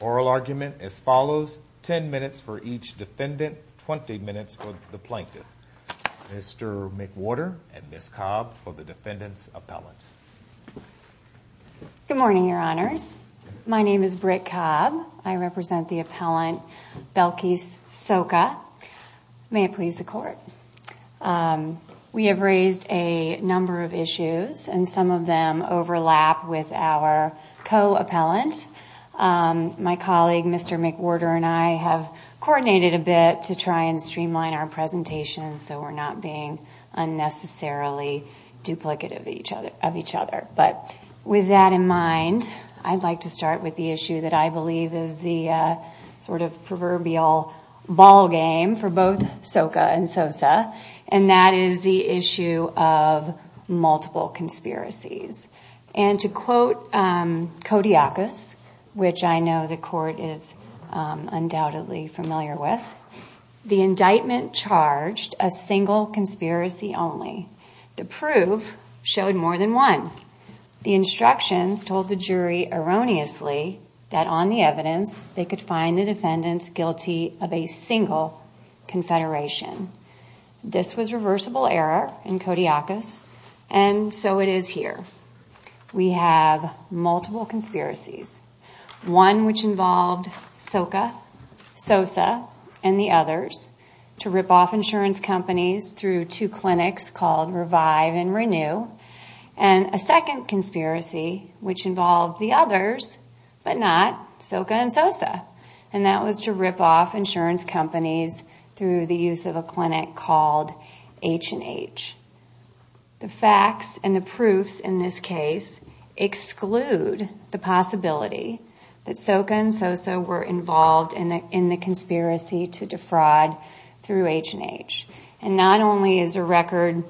Oral argument as follows, 10 minutes for each defendant, 20 minutes for the plaintiff. Mr. McWhorter and Ms. Cobb for the defendant's appellants. Good morning, your honors. I'm here on behalf of the plaintiff's attorney. My name is Britt Cobb, I represent the appellant Belkis Soca. May it please the court. We have raised a number of issues and some of them overlap with our co-appellant. My colleague, Mr. McWhorter, and I have coordinated a bit to try and streamline our presentation so we're not being unnecessarily duplicative of each other. With that in mind, I'd like to start with the issue that I believe is the proverbial ball game for both Soca and Sosa. And that is the issue of multiple conspiracies. And to quote Kodiakos, which I know the court is undoubtedly familiar with, the indictment charged a single conspiracy only. The proof showed more than one. The instructions told the jury erroneously that on the evidence they could find the defendants guilty of a single confederation. This was reversible error in Kodiakos, and so it is here. We have multiple conspiracies. One which involved Soca, Sosa, and the others to rip off insurance companies through two clinics called Revive and Renew. And a second conspiracy which involved the others, but not Soca and Sosa. And that was to rip off insurance companies through the use of a clinic called H&H. The facts and the proofs in this case exclude the possibility that Soca and Sosa were involved in the conspiracy to defraud through H&H. And not only is the record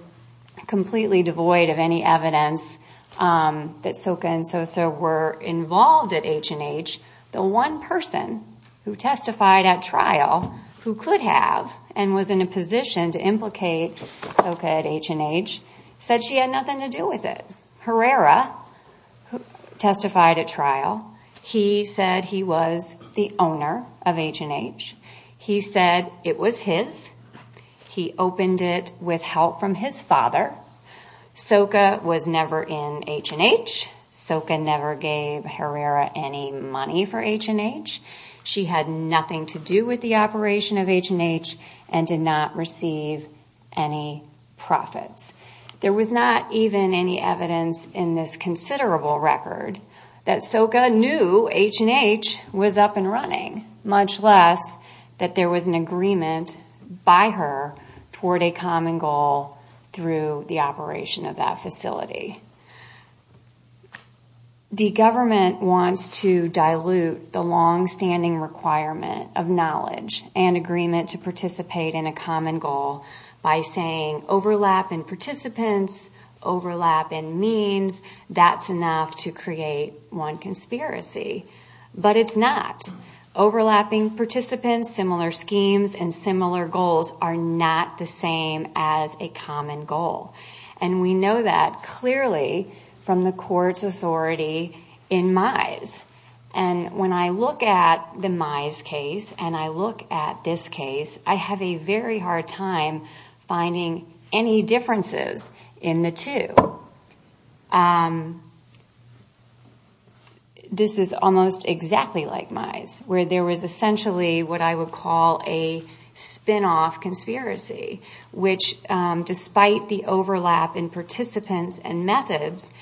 completely devoid of any evidence that Soca and Sosa were involved at H&H, the one person who testified at trial who could have and was in a position to implicate Soca at H&H said she had nothing to do with it. Herrera testified at trial. He said he was the owner of H&H. He said it was his. He opened it with help from his father. Soca was never in H&H. Soca never gave Herrera any money for H&H. She had nothing to do with the operation of H&H and did not receive any profits. There was not even any evidence in this considerable record that Soca knew H&H was up and running, The government wants to dilute the longstanding requirement of knowledge and agreement to participate in a common goal by saying overlap in participants, overlap in means, that's enough to create one conspiracy. But it's not. Overlapping participants, similar schemes, and similar goals are not the same as a common goal. And we know that clearly from the court's authority in Mize. And when I look at the Mize case and I look at this case, I have a very hard time finding any differences in the two. So this is almost exactly like Mize, where there was essentially what I would call a spin-off conspiracy, which despite the overlap in participants and methods,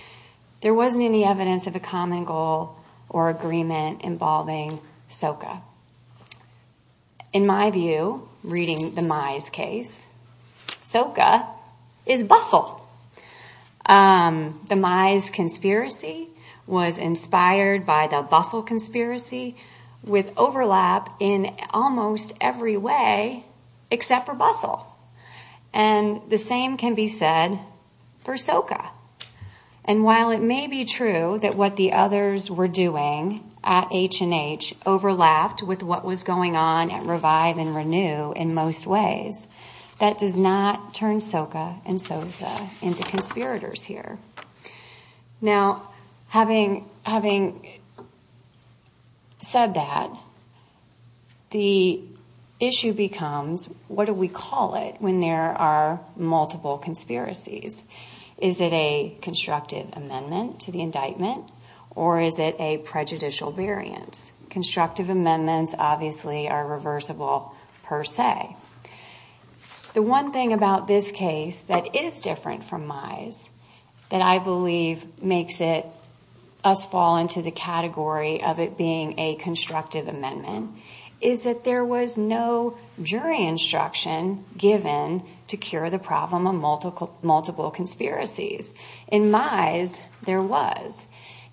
there wasn't any evidence of a common goal or agreement involving Soca. In my view, reading the Mize case, Soca is Bustle. The Mize conspiracy was inspired by the Bustle conspiracy, with overlap in almost every way except for Bustle. And the same can be said for Soca. And while it may be true that what the others were doing at H&H overlapped with what was going on at Revive and Renew in most ways, that does not turn Soca and Sosa into conspirators here. Now, having said that, the issue becomes what do we call it when there are multiple conspiracies? Is it a constructive amendment to the indictment, or is it a prejudicial variance? Constructive amendments obviously are reversible per se. The one thing about this case that is different from Mize that I believe makes us fall into the category of it being a constructive amendment is that there was no jury instruction given to cure the problem of multiple conspiracies. In Mize, there was.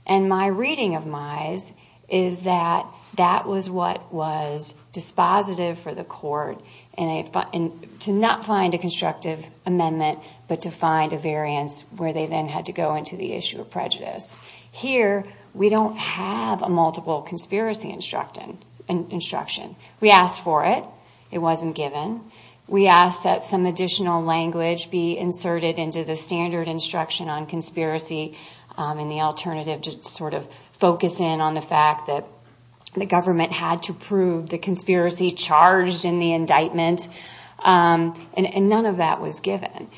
And my reading of Mize is that that was what was dispositive for the court to not find a constructive amendment, but to find a variance where they then had to go into the issue of prejudice. Here, we don't have a multiple conspiracy instruction. We asked for it. It wasn't given. We asked that some additional language be inserted into the standard instruction on conspiracy and the alternative to sort of focus in on the fact that the government had to prove the conspiracy charged in the indictment. And none of that was given.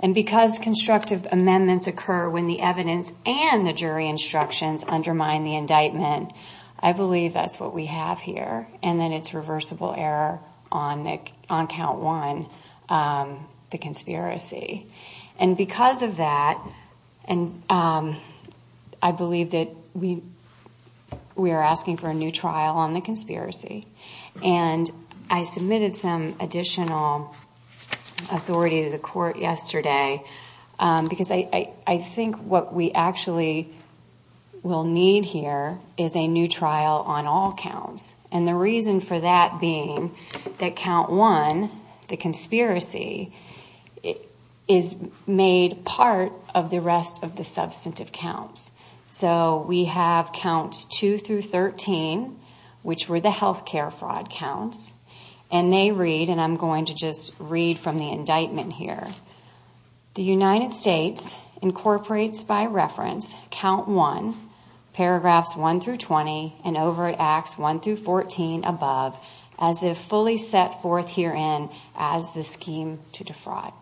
And because constructive amendments occur when the evidence and the jury instructions undermine the indictment, I believe that's what we have here, and that it's reversible error on count one, the conspiracy. And because of that, I believe that we are asking for a new trial on the conspiracy. And I submitted some additional authority to the court yesterday because I think what we actually will need here is a new trial on all counts. And the reason for that being that count one, the conspiracy, is made part of the rest of the substantive counts. So we have counts two through 13, which were the healthcare fraud counts. And they read, and I'm going to just read from the indictment here. The United States incorporates by reference count one, paragraphs one through 20, and over at acts one through 14 above, as if fully set forth herein as the scheme to defraud.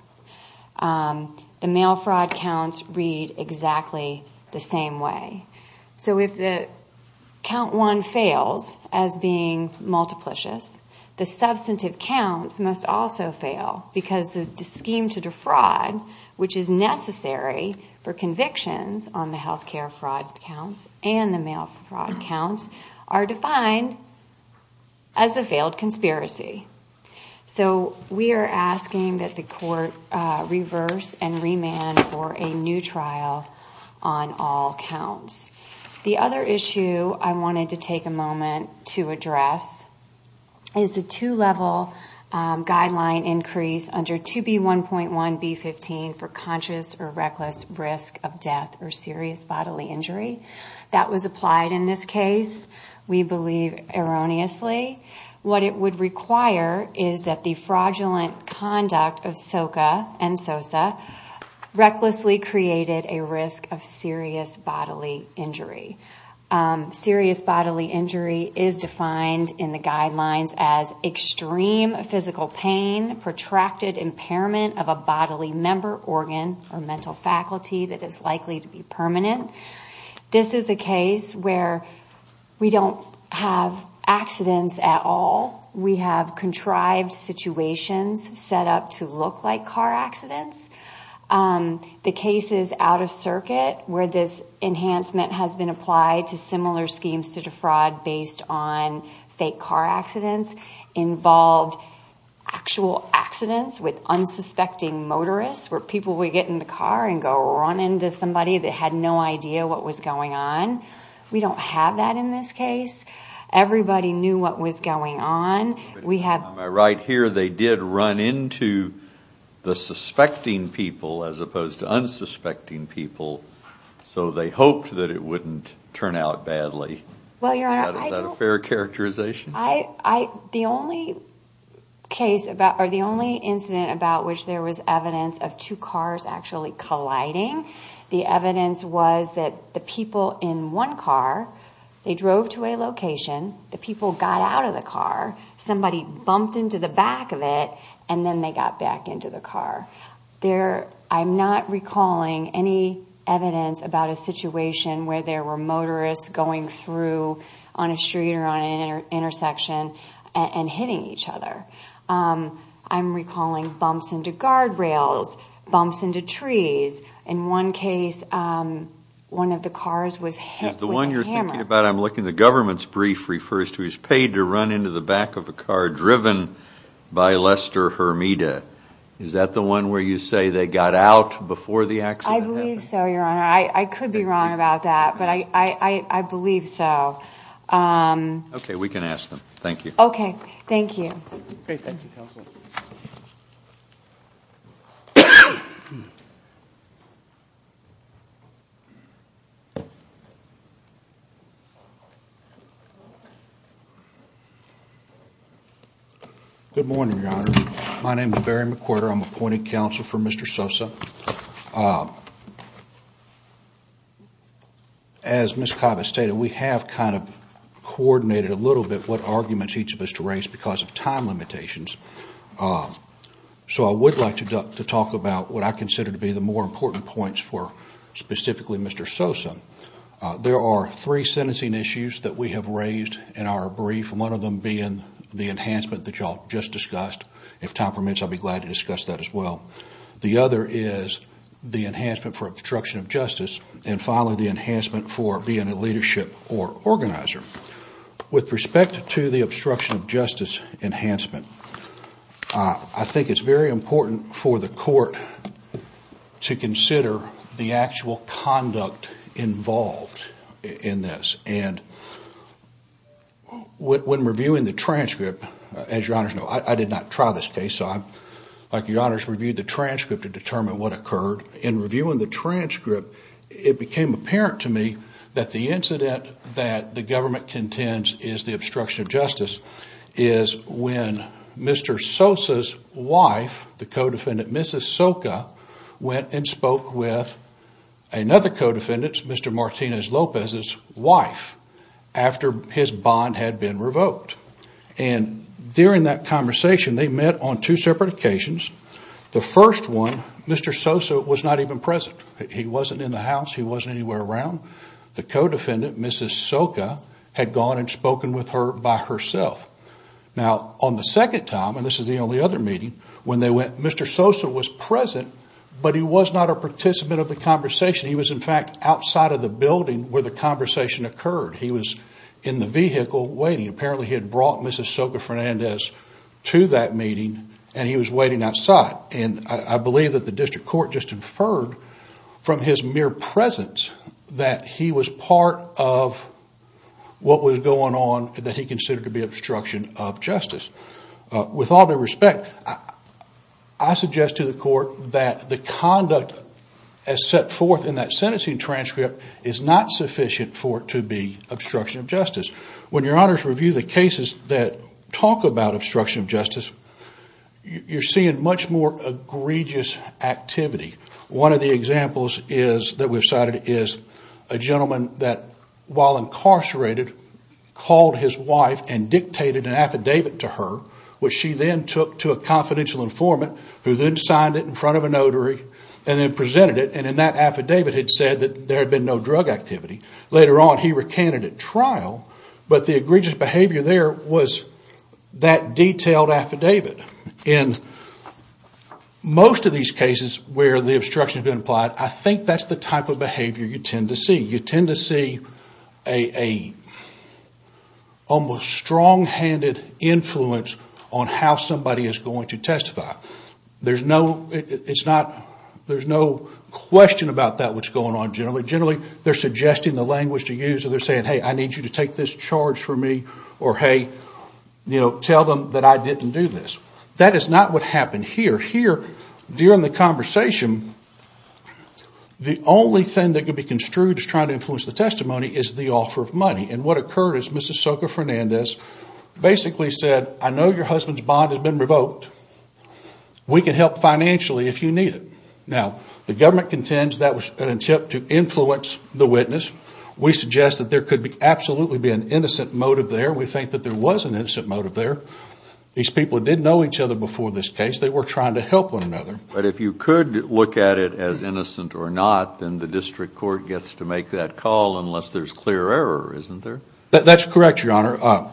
The mail fraud counts read exactly the same way. So if count one fails as being multiplicious, the substantive counts must also fail because the scheme to defraud, which is necessary for convictions on the healthcare fraud counts and the mail fraud counts, are defined as a failed conspiracy. So we are asking that the court reverse and remand for a new trial on all counts. The other issue I wanted to take a moment to address is the two-level guideline increase under 2B1.1B15 for conscious or reckless risk of death or serious bodily injury. That was applied in this case, we believe erroneously. What it would require is that the fraudulent conduct of Soka and Sosa recklessly created a risk of serious bodily injury. Serious bodily injury is defined in the guidelines as extreme physical pain, protracted impairment of a bodily member organ or mental faculty that is likely to be permanent. This is a case where we don't have accidents at all. We have contrived situations set up to look like car accidents. The cases out of circuit where this enhancement has been applied to similar schemes to defraud based on fake car accidents involved actual accidents with unsuspecting motorists, where people would get in the car and go run into somebody that had no idea what was going on. We don't have that in this case. Everybody knew what was going on. On my right here, they did run into the suspecting people as opposed to unsuspecting people, so they hoped that it wouldn't turn out badly. Is that a fair characterization? The only incident about which there was evidence of two cars actually colliding, the evidence was that the people in one car, they drove to a location, the people got out of the car, somebody bumped into the back of it, and then they got back into the car. I'm not recalling any evidence about a situation where there were motorists going through on a street or on an intersection and hitting each other. I'm recalling bumps into guardrails, bumps into trees. In one case, one of the cars was hit with a hammer. The one you're thinking about, I'm looking, the government's brief refers to he was paid to run into the back of a car driven by Lester Hermida. Is that the one where you say they got out before the accident happened? I believe so, Your Honor. I could be wrong about that, but I believe so. Okay, we can ask them. Thank you. Okay, thank you. Good morning, Your Honor. My name is Barry McWhorter. I'm appointed counsel for Mr. Sosa. As Ms. Kava stated, we have kind of coordinated a little bit what arguments each of us to raise because of time limitations. So I would like to talk about what I consider to be the more important points for specifically Mr. Sosa. There are three sentencing issues that we have raised in our brief, one of them being the enhancement that you all just discussed. If time permits, I'll be glad to discuss that as well. The other is the enhancement for obstruction of justice and, finally, the enhancement for being a leadership or organizer. With respect to the obstruction of justice enhancement, I think it's very important for the court to consider the actual conduct involved in this. And when reviewing the transcript, as Your Honors know, I did not try this case, so I'd like Your Honors to review the transcript to determine what occurred. In reviewing the transcript, it became apparent to me that the incident that the government contends is the obstruction of justice is when Mr. Sosa's wife, the co-defendant, Mrs. Soka, went and spoke with another co-defendant, Mr. Martinez Lopez's wife, after his bond had been revoked. And during that conversation, they met on two separate occasions. The first one, Mr. Sosa was not even present. He wasn't in the house. He wasn't anywhere around. The co-defendant, Mrs. Soka, had gone and spoken with her by herself. Now, on the second time, and this is the only other meeting, when they went, Mr. Sosa was present, but he was not a participant of the conversation. He was, in fact, outside of the building where the conversation occurred. He was in the vehicle waiting. Apparently, he had brought Mrs. Soka Fernandez to that meeting, and he was waiting outside. And I believe that the district court just inferred from his mere presence that he was part of what was going on that he considered to be obstruction of justice. With all due respect, I suggest to the court that the conduct as set forth in that sentencing transcript is not sufficient for it to be obstruction of justice. When your honors review the cases that talk about obstruction of justice, you're seeing much more egregious activity. One of the examples that we've cited is a gentleman that, while incarcerated, called his wife and dictated an affidavit to her, which she then took to a confidential informant, who then signed it in front of a notary, and then presented it. And in that affidavit, it said that there had been no drug activity. Later on, he recanted at trial, but the egregious behavior there was that detailed affidavit. In most of these cases where the obstruction has been applied, I think that's the type of behavior you tend to see. You tend to see an almost strong-handed influence on how somebody is going to testify. There's no question about that, what's going on generally. Generally, they're suggesting the language to use. They're saying, hey, I need you to take this charge for me, or hey, tell them that I didn't do this. That is not what happened here. Here, during the conversation, the only thing that could be construed as trying to influence the testimony is the offer of money. And what occurred is Mrs. Soka Fernandez basically said, I know your husband's bond has been revoked. We can help financially if you need it. Now, the government contends that was an attempt to influence the witness. We suggest that there could absolutely be an innocent motive there. We think that there was an innocent motive there. These people did know each other before this case. They were trying to help one another. But if you could look at it as innocent or not, then the district court gets to make that call unless there's clear error, isn't there? That's correct, Your Honor.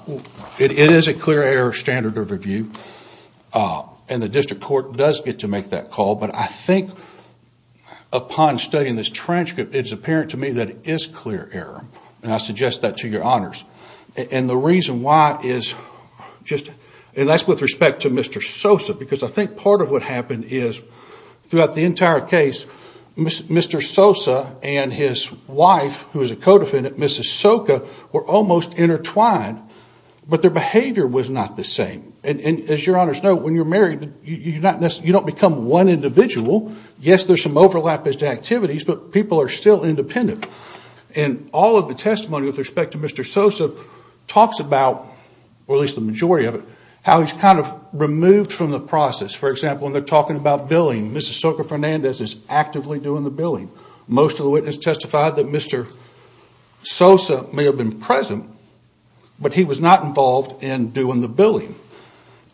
It is a clear error standard of review, and the district court does get to make that call. But I think upon studying this transcript, it's apparent to me that it is clear error, and I suggest that to Your Honors. And the reason why is just, and that's with respect to Mr. Sosa, because I think part of what happened is throughout the entire case, Mr. Sosa and his wife, who is a co-defendant, Mrs. Soka, were almost intertwined, but their behavior was not the same. And as Your Honors know, when you're married, you don't become one individual. Yes, there's some overlap as to activities, but people are still independent. And all of the testimony with respect to Mr. Sosa talks about, or at least the majority of it, how he's kind of removed from the process. For example, when they're talking about billing, Mrs. Soka Fernandez is actively doing the billing. Most of the witnesses testified that Mr. Sosa may have been present, but he was not involved in doing the billing.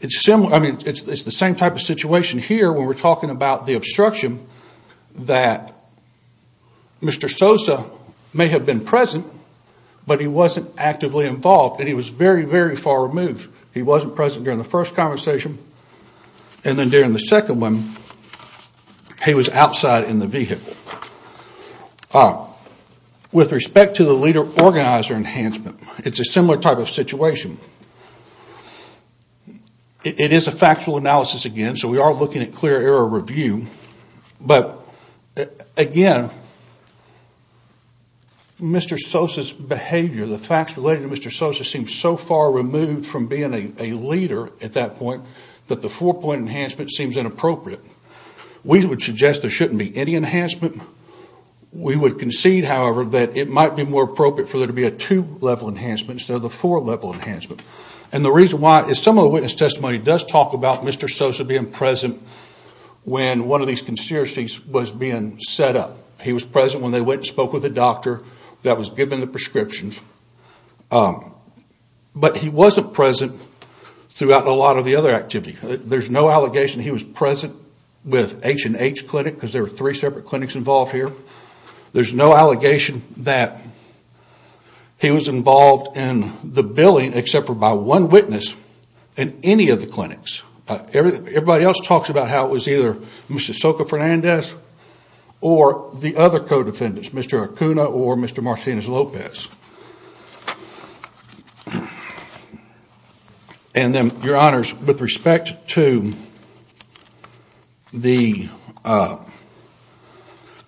It's the same type of situation here when we're talking about the obstruction, that Mr. Sosa may have been present, but he wasn't actively involved, and he was very, very far removed. He wasn't present during the first conversation, and then during the second one, he was outside in the vehicle. With respect to the leader-organizer enhancement, it's a similar type of situation. It is a factual analysis again, so we are looking at clear error review. But again, Mr. Sosa's behavior, the facts related to Mr. Sosa seem so far removed from being a leader at that point, that the four-point enhancement seems inappropriate. We would suggest there shouldn't be any enhancement. We would concede, however, that it might be more appropriate for there to be a two-level enhancement instead of a four-level enhancement. And the reason why is some of the witness testimony does talk about Mr. Sosa being present when one of these conspiracies was being set up. He was present when they went and spoke with the doctor that was giving the prescriptions, but he wasn't present throughout a lot of the other activity. There's no allegation he was present with H&H Clinic, because there were three separate clinics involved here. There's no allegation that he was involved in the billing except for by one witness in any of the clinics. Everybody else talks about how it was either Mr. Soka Fernandez or the other co-defendants, Mr. Acuna or Mr. Martinez-Lopez. And then, your honors, with respect to the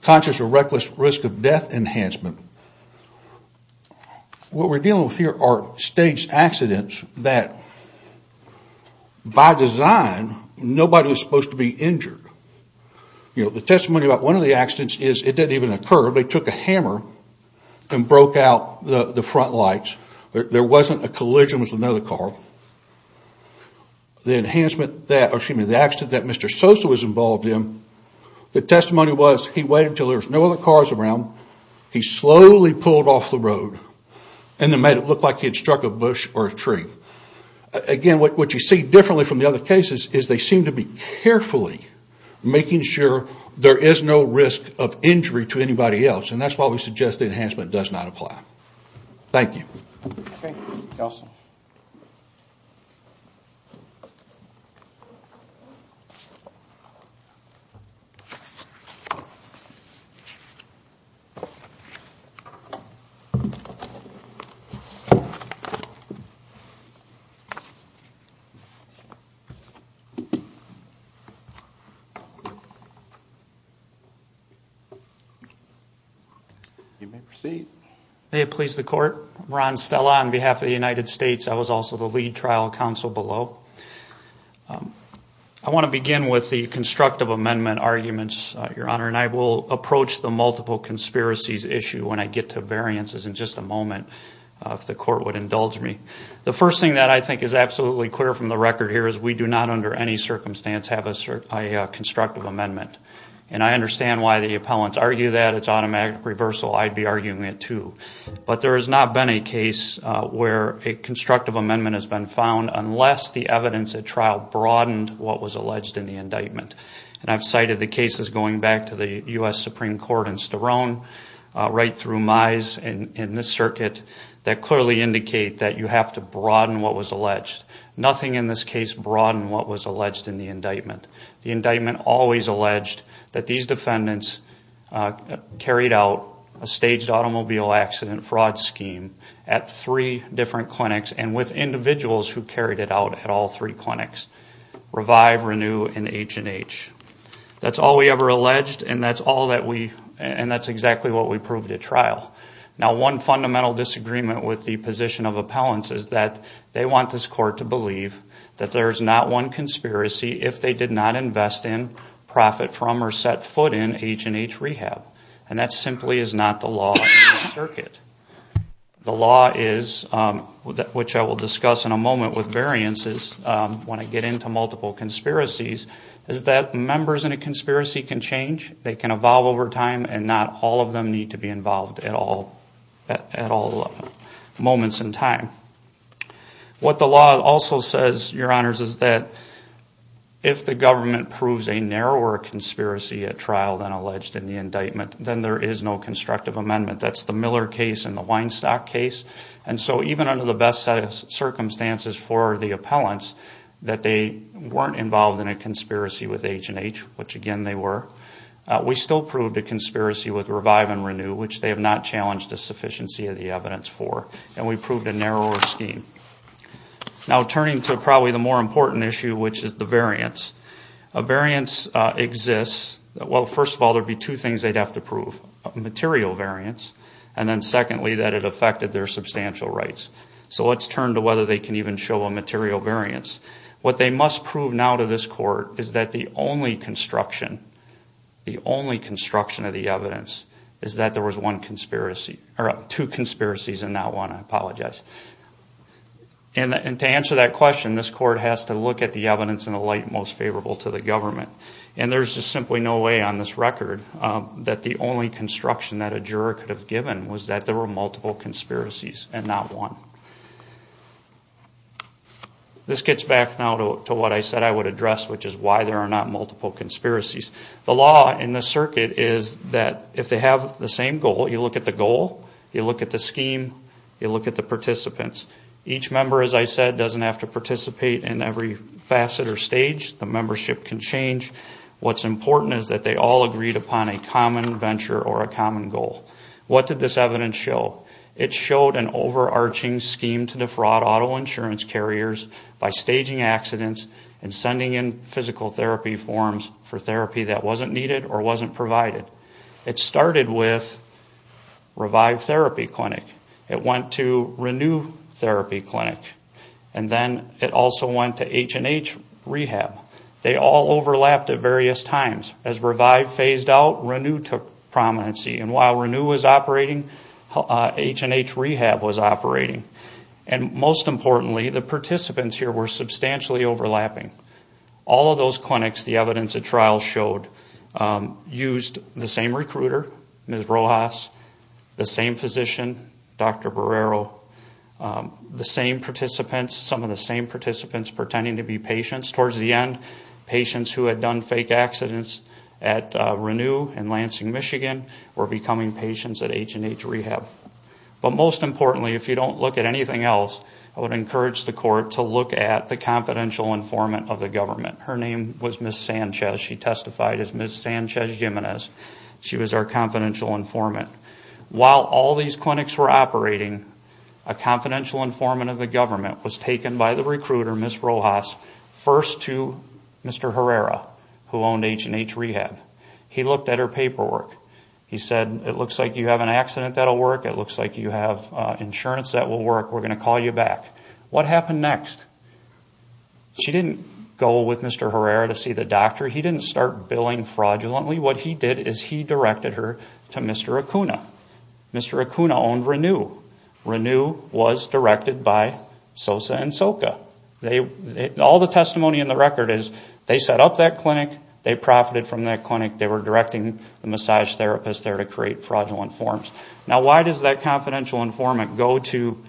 conscious or reckless risk of death enhancement, what we're dealing with here are staged accidents that, by design, nobody was supposed to be injured. You know, the testimony about one of the accidents is it didn't even occur. They took a hammer and broke out the front lights. There wasn't a collision with another car. The enhancement that, or excuse me, the accident that Mr. Sosa was involved in, the testimony was he waited until there was no other cars around. He slowly pulled off the road and then made it look like he had struck a bush or a tree. Again, what you see differently from the other cases is they seem to be carefully making sure there is no risk of injury to anybody else. And that's why we suggest the enhancement does not apply. You may proceed. May it please the court. Ron Stella on behalf of the United States. I was also the lead trial counsel below. I want to begin with the constructive amendment arguments, your honor, and I will approach the multiple conspiracies issue when I get to variances in just a moment, if the court would indulge me. The first thing that I think is absolutely clear from the record here is we do not, under any circumstance, have a constructive amendment. And I understand why the appellants argue that it's automatic reversal. I'd be arguing it too. But there has not been a case where a constructive amendment has been found unless the evidence at trial broadened what was alleged in the indictment. And I've cited the cases going back to the U.S. Supreme Court in Sterone, right through Mize, and in this circuit, that clearly indicate that you have to broaden what was alleged. Nothing in this case broadened what was alleged in the indictment. The indictment always alleged that these defendants carried out a staged automobile accident fraud scheme at three different clinics and with individuals who carried it out at all three clinics, revive, renew, and H&H. That's all we ever alleged, and that's exactly what we proved at trial. Now, one fundamental disagreement with the position of appellants is that they want this court to believe that there is not one conspiracy if they did not invest in, profit from, or set foot in H&H rehab. And that simply is not the law of the circuit. The law is, which I will discuss in a moment with variances when I get into multiple conspiracies, is that members in a conspiracy can change. They can evolve over time, and not all of them need to be involved at all moments in time. What the law also says, Your Honors, is that if the government proves a narrower conspiracy at trial than alleged in the indictment, then there is no constructive amendment. That's the Miller case and the Weinstock case. And so even under the best circumstances for the appellants, that they weren't involved in a conspiracy with H&H, which again they were, we still proved a conspiracy with revive and renew, which they have not challenged the sufficiency of the evidence for. And we proved a narrower scheme. Now turning to probably the more important issue, which is the variance. A variance exists, well first of all there would be two things they would have to prove. Material variance, and then secondly that it affected their substantial rights. So let's turn to whether they can even show a material variance. What they must prove now to this court is that the only construction, the only construction of the evidence is that there was one conspiracy, or two conspiracies and not one, I apologize. And to answer that question, this court has to look at the evidence in a light most favorable to the government. And there's just simply no way on this record that the only construction that a juror could have given was that there were multiple conspiracies and not one. This gets back now to what I said I would address, which is why there are not multiple conspiracies. The law in this circuit is that if they have the same goal, you look at the goal, you look at the scheme, you look at the participants. Each member, as I said, doesn't have to participate in every facet or stage, the membership can change. What's important is that they all agreed upon a common venture or a common goal. What did this evidence show? It showed an overarching scheme to defraud auto insurance carriers by staging accidents and sending in physical therapy forms for therapy that wasn't needed or wasn't provided. It started with Revive Therapy Clinic, it went to Renew Therapy Clinic, and then it also went to H&H Rehab. They all overlapped at various times. As Revive phased out, Renew took prominency, and while Renew was operating, H&H Rehab was operating. And most importantly, the participants here were substantially overlapping. All of those clinics, the evidence at trial showed, used the same recruiter, Ms. Rojas, the same physician, Dr. Barrero, the same participants, some of the same participants pretending to be patients. Towards the end, patients who had done fake accidents at Renew and Lansing, Michigan, were becoming patients at H&H Rehab. But most importantly, if you don't look at anything else, I would encourage the court to look at the confidential informant of the government. Her name was Ms. Sanchez. She testified as Ms. Sanchez Jimenez. She was our confidential informant. While all these clinics were operating, a confidential informant of the government was taken by the recruiter, Ms. Rojas, first and foremost. First to Mr. Herrera, who owned H&H Rehab. He looked at her paperwork. He said, it looks like you have an accident that will work. It looks like you have insurance that will work. We're going to call you back. What happened next? She didn't go with Mr. Herrera to see the doctor. He didn't start billing fraudulently. What he did is he directed her to Mr. Acuna. Mr. Acuna owned Renew. Renew was directed by Sosa and Soka. All the testimony in the record is they set up that clinic. They profited from that clinic. They were directing the massage therapist there to create fraudulent forms. Now why does that confidential informant go to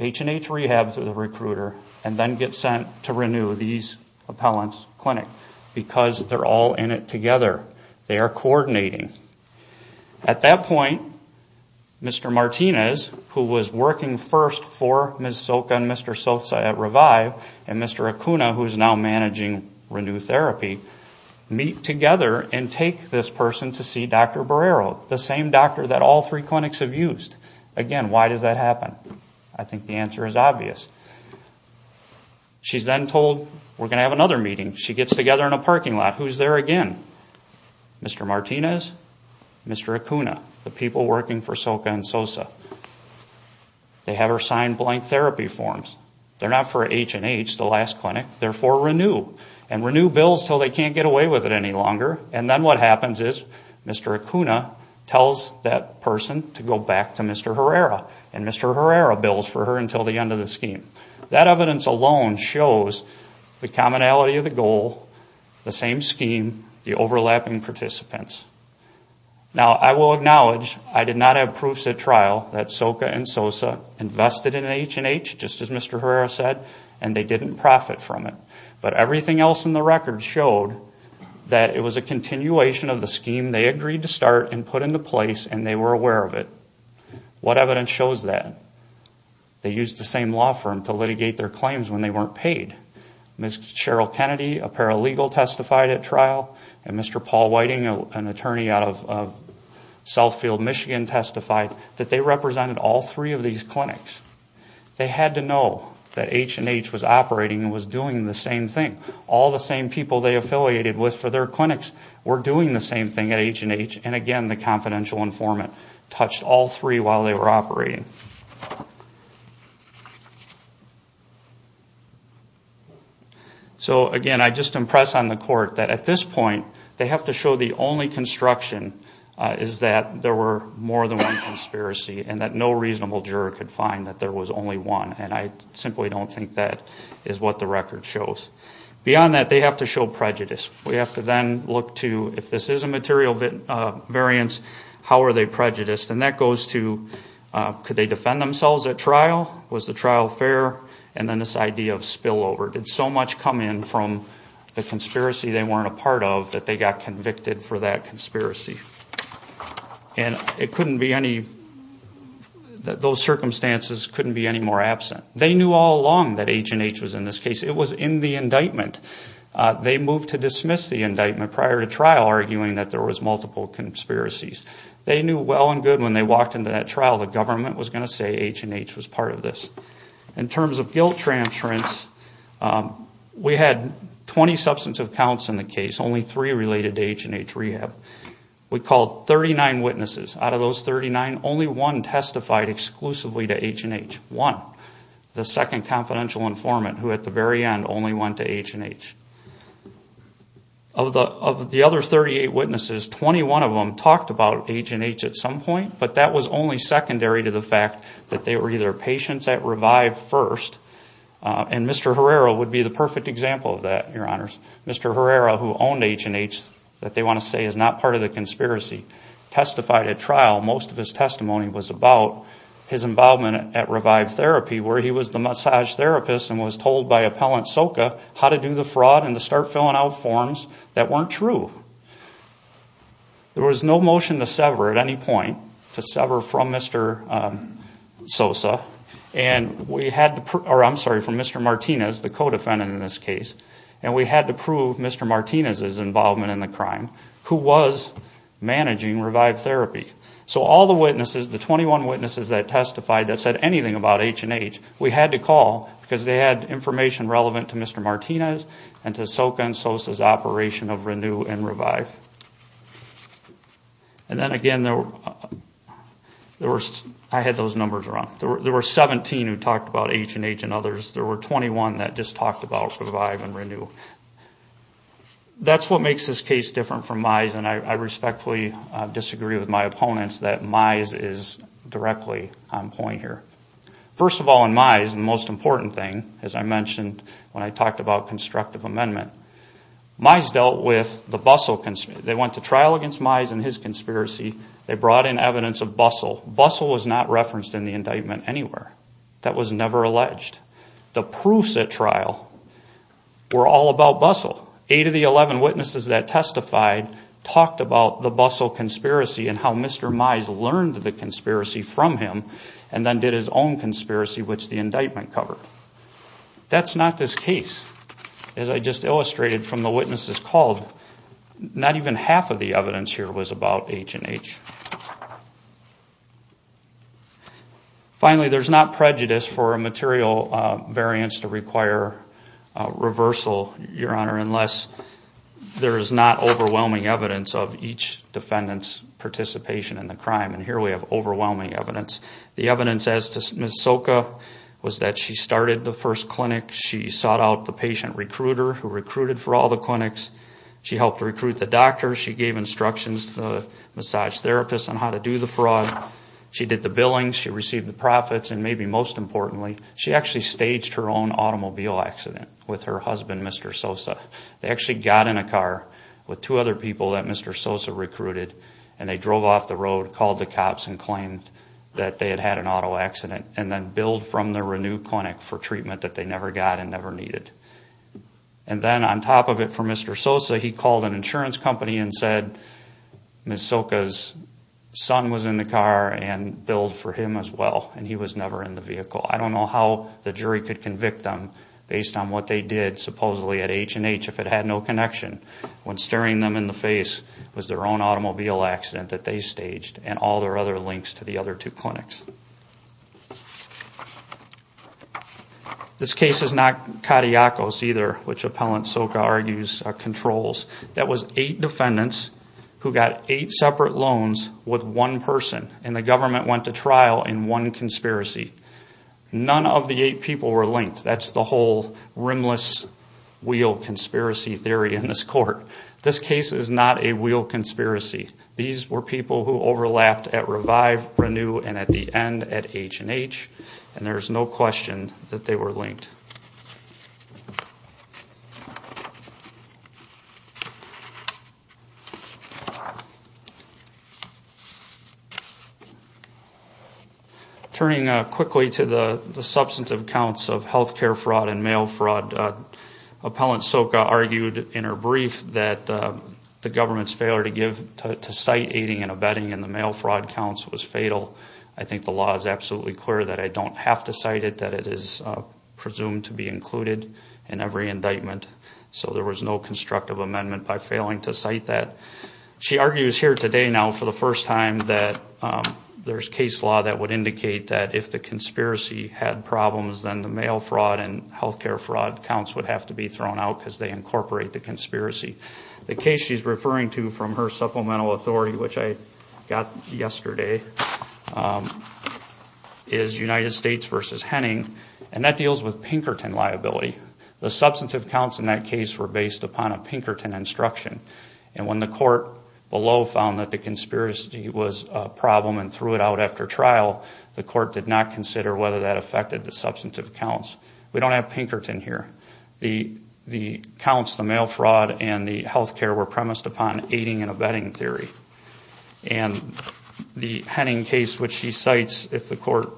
H&H Rehab through the recruiter and then get sent to Renew, these appellant's clinic? Because they're all in it together. They are coordinating. At that point, Mr. Martinez, who was working first for Ms. Soka and Mr. Sosa at Revive, and Mr. Acuna, who is now managing Renew Therapy, meet together and take this person to see Dr. Barrero, the same doctor that all three clinics have used. Again, why does that happen? I think the answer is obvious. She's then told, we're going to have another meeting. She gets together in a parking lot. Who's there again? Mr. Martinez, Mr. Acuna, the people working for Soka and Sosa. They have her sign blank therapy forms. They're not for H&H, the last clinic. They're for Renew. And Renew bills until they can't get away with it any longer. And then what happens is Mr. Acuna tells that person to go back to Mr. Herrera. And Mr. Herrera bills for her until the end of the scheme. That evidence alone shows the commonality of the goal, the same scheme, the overlapping participants. Now, I will acknowledge I did not have proofs at trial that Soka and Sosa invested in H&H, just as Mr. Herrera said, and they didn't profit from it. But everything else in the record showed that it was a continuation of the scheme they agreed to start and put into place, and they were aware of it. What evidence shows that? They used the same law firm to litigate their claims when they weren't paid. Ms. Cheryl Kennedy, a paralegal, testified at trial, and Mr. Paul Whiting, an attorney out of Southfield, Michigan, testified that they represented all three of these clinics. They had to know that H&H was operating and was doing the same thing. All the same people they affiliated with for their clinics were doing the same thing at H&H. And again, the confidential informant touched all three while they were operating. So again, I just impress on the Court that at this point, they have to show the only construction is that there were more than one conspiracy, and that no reasonable juror could find that there was only one. And I simply don't think that is what the record shows. Beyond that, they have to show prejudice. We have to then look to, if this is a material variance, how are they prejudiced? And that goes to, could they defend themselves at trial? Was the trial fair? And then this idea of spillover. Did so much come in from the conspiracy they weren't a part of that they got convicted for that conspiracy? And it couldn't be any, those circumstances couldn't be any more absent. They knew all along that H&H was in this case. It was in the indictment. They moved to dismiss the indictment prior to trial, arguing that there was multiple conspiracies. They knew well and good when they walked into that trial, the government was going to say H&H was part of this. In terms of guilt transference, we had 20 substantive counts in the case, only three related to H&H rehab. We called 39 witnesses. Out of those 39, only one testified exclusively to H&H. One, the second confidential informant, who at the very end only went to H&H. Of the other 38 witnesses, 21 of them talked about H&H at some point, but that was only secondary to the fact that they were either patients at rehab or at Revive first, and Mr. Herrera would be the perfect example of that, your honors. Mr. Herrera, who owned H&H, that they want to say is not part of the conspiracy, testified at trial. Most of his testimony was about his involvement at Revive Therapy, where he was the massage therapist and was told by Appellant Soka how to do the fraud and to start filling out forms that weren't true. There was no motion to sever at any point, to sever from Mr. Sosa, or I'm sorry, from Mr. Martinez, the co-defendant in this case. And we had to prove Mr. Martinez's involvement in the crime, who was managing Revive Therapy. So all the witnesses, the 21 witnesses that testified that said anything about H&H, we had to call because they had information relevant to Mr. Martinez and to Soka and Sosa's operation of Renew and Revive. And then again, I had those numbers wrong. There were 17 who talked about H&H and others. There were 21 that just talked about Revive and Renew. That's what makes this case different from Mize, and I respectfully disagree with my opponents that Mize is directly on point here. First of all, in Mize, the most important thing, as I mentioned when I talked about constructive amendment, Mize dealt with the Bustle conspiracy. They went to trial against Mize and his conspiracy. They brought in evidence of Bustle. Bustle was not referenced in the indictment anywhere. That was never alleged. The proofs at trial were all about Bustle. Eight of the 11 witnesses that testified talked about the Bustle conspiracy and how Mr. Mize learned the conspiracy from him and then did his own conspiracy, which the indictment covered. That's not this case. As I just illustrated from the witnesses called, not even half of the evidence here was about H&H. Finally, there's not prejudice for a material variance to require reversal, Your Honor, unless there is not overwhelming evidence of each defendant's participation in the crime. And here we have overwhelming evidence. The evidence as to Ms. Soka was that she started the first clinic. She sought out the patient recruiter who recruited for all the clinics. She helped recruit the doctor. She gave instructions to the massage therapist on how to do the fraud. She did the billing. She received the profits. And maybe most importantly, she actually staged her own automobile accident with her husband, Mr. Sosa. They actually got in a car with two other people that Mr. Sosa recruited, and they drove off the road, called the cops, and claimed that they had had an auto accident, and then billed from the renewed clinic for treatment that they never got and never needed. And then on top of it for Mr. Sosa, he called an insurance company and said Ms. Soka's son was in the car and billed for him as well, and he was never in the vehicle. I don't know how the jury could convict them based on what they did supposedly at H&H if it had no connection. When staring them in the face was their own automobile accident that they staged and all their other links to the other two clinics. This case is not Kadiakos either, which Appellant Soka argues controls. That was eight defendants who got eight separate loans with one person, and the government went to trial in one conspiracy. None of the eight people were linked. That's the whole rimless wheel conspiracy theory in this court. This case is not a wheel conspiracy. These were people who overlapped at Revive, Renew, and at the H&H. And there's no question that they were linked. Turning quickly to the substantive counts of health care fraud and mail fraud, Appellant Soka argued in her brief that the government's failure to give to site aiding and abetting in the mail fraud counts was fatal. I think the law is absolutely clear that I don't have to cite it, that it is presumed to be included in every indictment. So there was no constructive amendment by failing to cite that. She argues here today now for the first time that there's case law that would indicate that if the conspiracy had problems, then the mail fraud and health care fraud counts would have to be thrown out because they incorporate the conspiracy. The case she's referring to from her supplemental authority, which I got yesterday, is United States v. Henning, and that deals with Pinkerton liability. The substantive counts in that case were based upon a Pinkerton instruction, and when the court below found that the conspiracy was a problem and threw it out after trial, the court did not consider whether that affected the substantive counts. We don't have Pinkerton here. The counts, the mail fraud, and the health care were premised upon aiding and abetting theory. And the Henning case, which she cites, if the court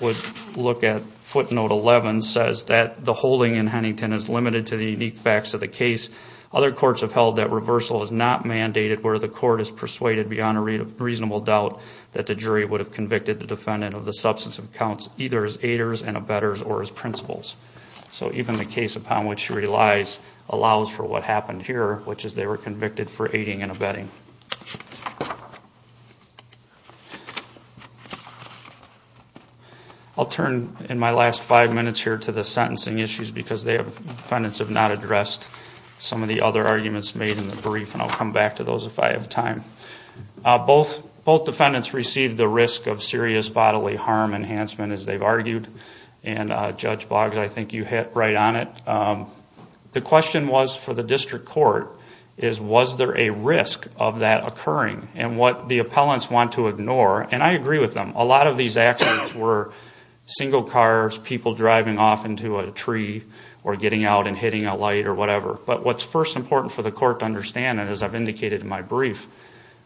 would look at footnote 11, says that the holding in Hennington is limited to the unique facts of the case. Other courts have held that reversal is not mandated where the court is persuaded beyond a reasonable doubt that the jury would have convicted the defendant of the substantive counts, either as aiders and abettors or as principals. So even the case upon which she relies allows for what happened here, which is they were convicted for aiding and abetting. I'll turn in my last five minutes here to the sentencing issues because the defendants have not addressed some of the other arguments made in the brief, and I'll come back to those if I have time. Both defendants received the risk of serious bodily harm enhancement, as they've argued. And Judge Boggs, I think you hit right on it. The question was for the district court, was there a risk of that occurring? And what the appellants want to ignore, and I agree with them, a lot of these accidents were single cars, people driving off into a tree or getting out and hitting a light or whatever. But what's first important for the court to understand, and as I've indicated in my brief,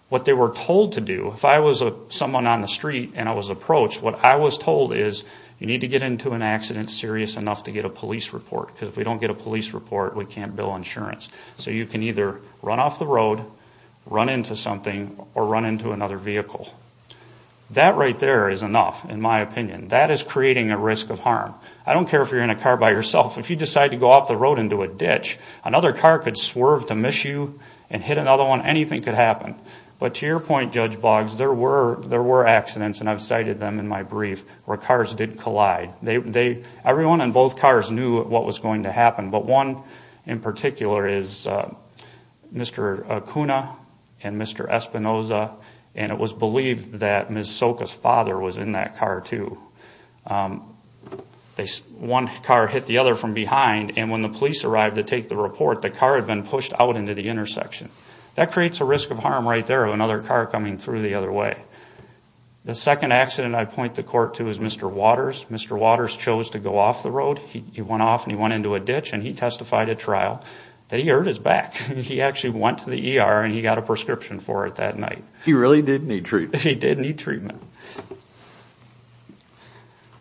what they were told to do, if I was someone on the street and I was approached, what I was told is you need to get into an accident serious enough to get a police report, because if we don't get a police report, we can't bill insurance. So you can either run off the road, run into something, or run into another vehicle. That right there is enough, in my opinion. That is creating a risk of harm. I don't care if you're in a car by yourself. If you decide to go off the road into a ditch, another car could swerve to miss you and hit another one, anything could happen. But to your point, Judge Boggs, there were accidents, and I've cited them in my brief, where cars did collide. Everyone in both cars knew what was going to happen, but one in particular is Mr. Acuna and Mr. Espinoza, and it was believed that Ms. Soka's father was in that car, too. One car hit the other from behind, and when the police arrived to take the report, the car had been pushed out into the intersection. That creates a risk of harm right there of another car coming through the other way. The second accident I point the court to is Mr. Waters. Mr. Waters chose to go off the road. He went off and he went into a ditch, and he testified at trial that he hurt his back. He actually went to the ER and he got a prescription for it that night.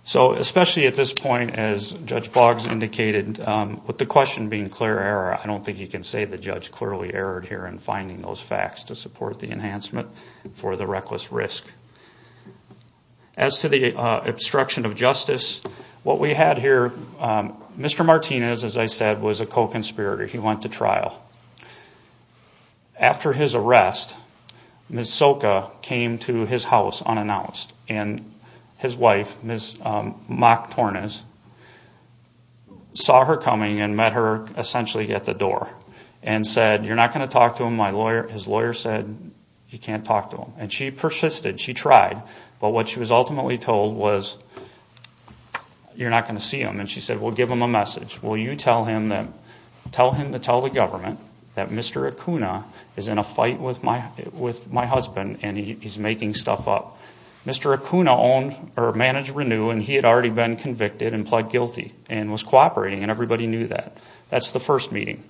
So especially at this point, as Judge Boggs indicated, with the question being clear error, I don't think you can say the judge clearly erred here in finding those facts to support the enhancement for the reckless risk. As to the obstruction of justice, what we had here, Mr. Martinez, as I said, was a co-conspirator. He went to trial. After his arrest, Ms. Soka came to his house unannounced, and his wife, Ms. Mock Tornes, saw her coming and met her essentially at the door and said, you're not going to talk to him. His lawyer said, you can't talk to him. She persisted. She tried, but what she was ultimately told was, you're not going to see him. She said, well, give him a message. Tell him to tell the government that Mr. Acuna is in a fight with my husband, and he's making stuff up. Mr. Acuna managed Renew, and he had already been convicted and pled guilty and was cooperating, and everybody knew that. That's the first meeting.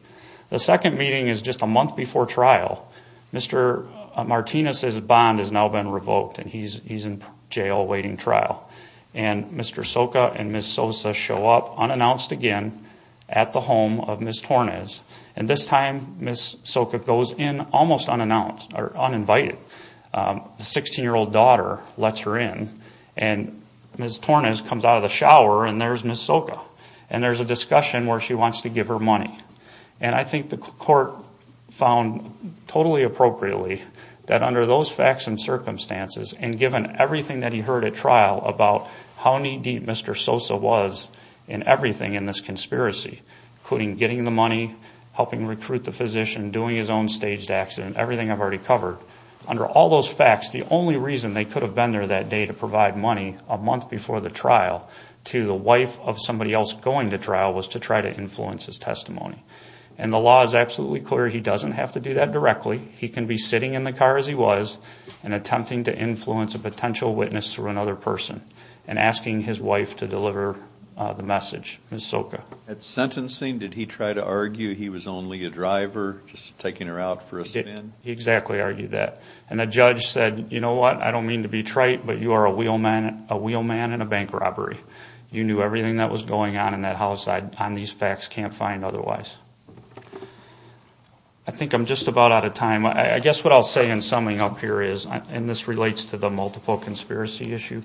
The second meeting is just a month before trial. Mr. Martinez's bond has now been revoked, and he's in jail awaiting trial. Mr. Soka and Ms. Sosa show up unannounced again at the home of Ms. Tornes. This time, Ms. Soka goes in almost unannounced or uninvited. The 16-year-old daughter lets her in, and Ms. Tornes comes out of the shower, and there's Ms. Soka. There's a discussion where she wants to give her money. And I think the court found totally appropriately that under those facts and circumstances, and given everything that he heard at trial about how knee-deep Mr. Sosa was in everything in this conspiracy, including getting the money, helping recruit the physician, doing his own staged accident, everything I've already covered, under all those facts, the only reason they could have been there that day to provide money a month before the trial to the wife of somebody else going to trial was to try to influence his testimony. And the law is absolutely clear he doesn't have to do that directly. He can be sitting in the car as he was and attempting to influence a potential witness through another person and asking his wife to deliver the message, Ms. Soka. At sentencing, did he try to argue he was only a driver, just taking her out for a spin? He exactly argued that. And the judge said, you know what, I don't mean to be trite, but you are a wheelman in a bank robbery. You knew everything that was going on in that house on these facts, can't find otherwise. I think I'm just about out of time. I guess what I'll say in summing up here is, and this relates to the multiple conspiracy issue,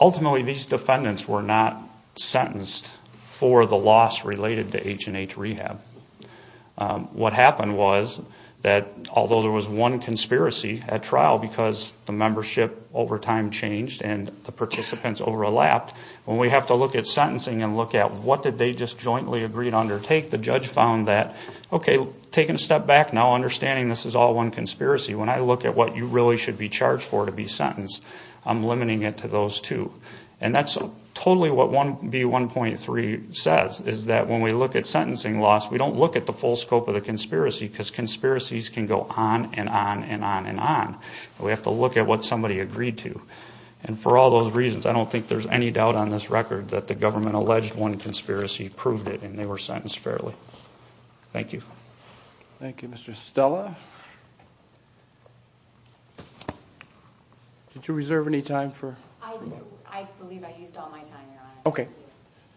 ultimately these defendants were not sentenced for the loss related to H&H Rehab. What happened was that although there was one conspiracy at trial because the membership over time changed and the participants overlapped, when we have to look at sentencing and look at what did they just jointly agree to undertake, the judge found that, okay, taking a step back now, understanding this is all one conspiracy, when I look at what you really should be charged for to be sentenced, I'm limiting it to those two. And that's totally what 1B1.3 says, is that when we look at sentencing loss, we don't look at the full scope of the conspiracy because conspiracies can go on and on and on and on. We have to look at what somebody agreed to. And for all those reasons, I don't think there's any doubt on this record that the government alleged one conspiracy, proved it, and they were sentenced fairly. Thank you. Thank you, Mr. Stella. Did you reserve any time for... I believe I used all my time, Your Honor. Okay.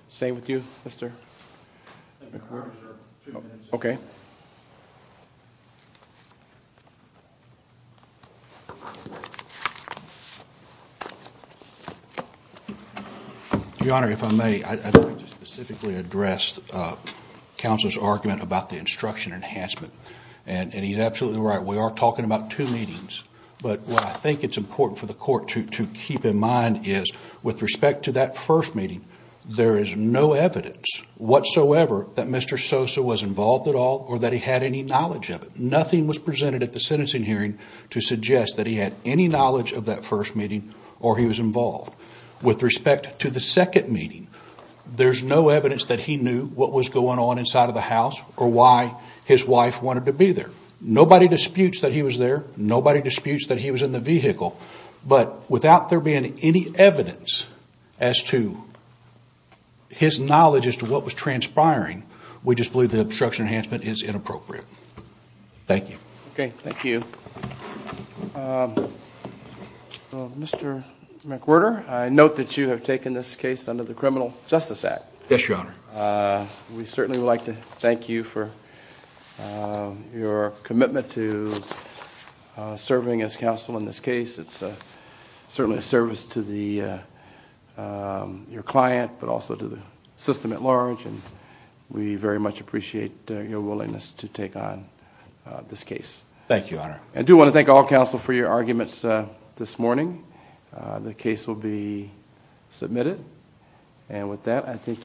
Same with you, Mr. McClure? Two minutes. Okay. Your Honor, if I may, I'd like to specifically address counsel's argument about the instruction enhancement. And he's absolutely right. We are talking about two meetings. But what I think it's important for the court to keep in mind is, with respect to that first meeting, there is no evidence whatsoever that Mr. Sosa was involved at all or that he had any knowledge of it. Nothing was presented at the sentencing hearing to suggest that he had any knowledge of that first meeting or he was involved. With respect to the second meeting, there's no evidence that he knew what was going on inside of the house or why his wife wanted to be there. Nobody disputes that he was there. Nobody disputes that he was in the vehicle. But without there being any evidence as to his knowledge as to what was transpiring, we just believe the instruction enhancement is inappropriate. Thank you. Okay. Thank you. Mr. McWhirter, I note that you have taken this case under the Criminal Justice Act. Yes, Your Honor. We certainly would like to thank you for your commitment to serving as counsel in this case. It's certainly a service to your client, but also to the system at large. We very much appreciate your willingness to take on this case. Thank you, Your Honor. I do want to thank all counsel for your arguments this morning. The case will be submitted. And with that, I thank you.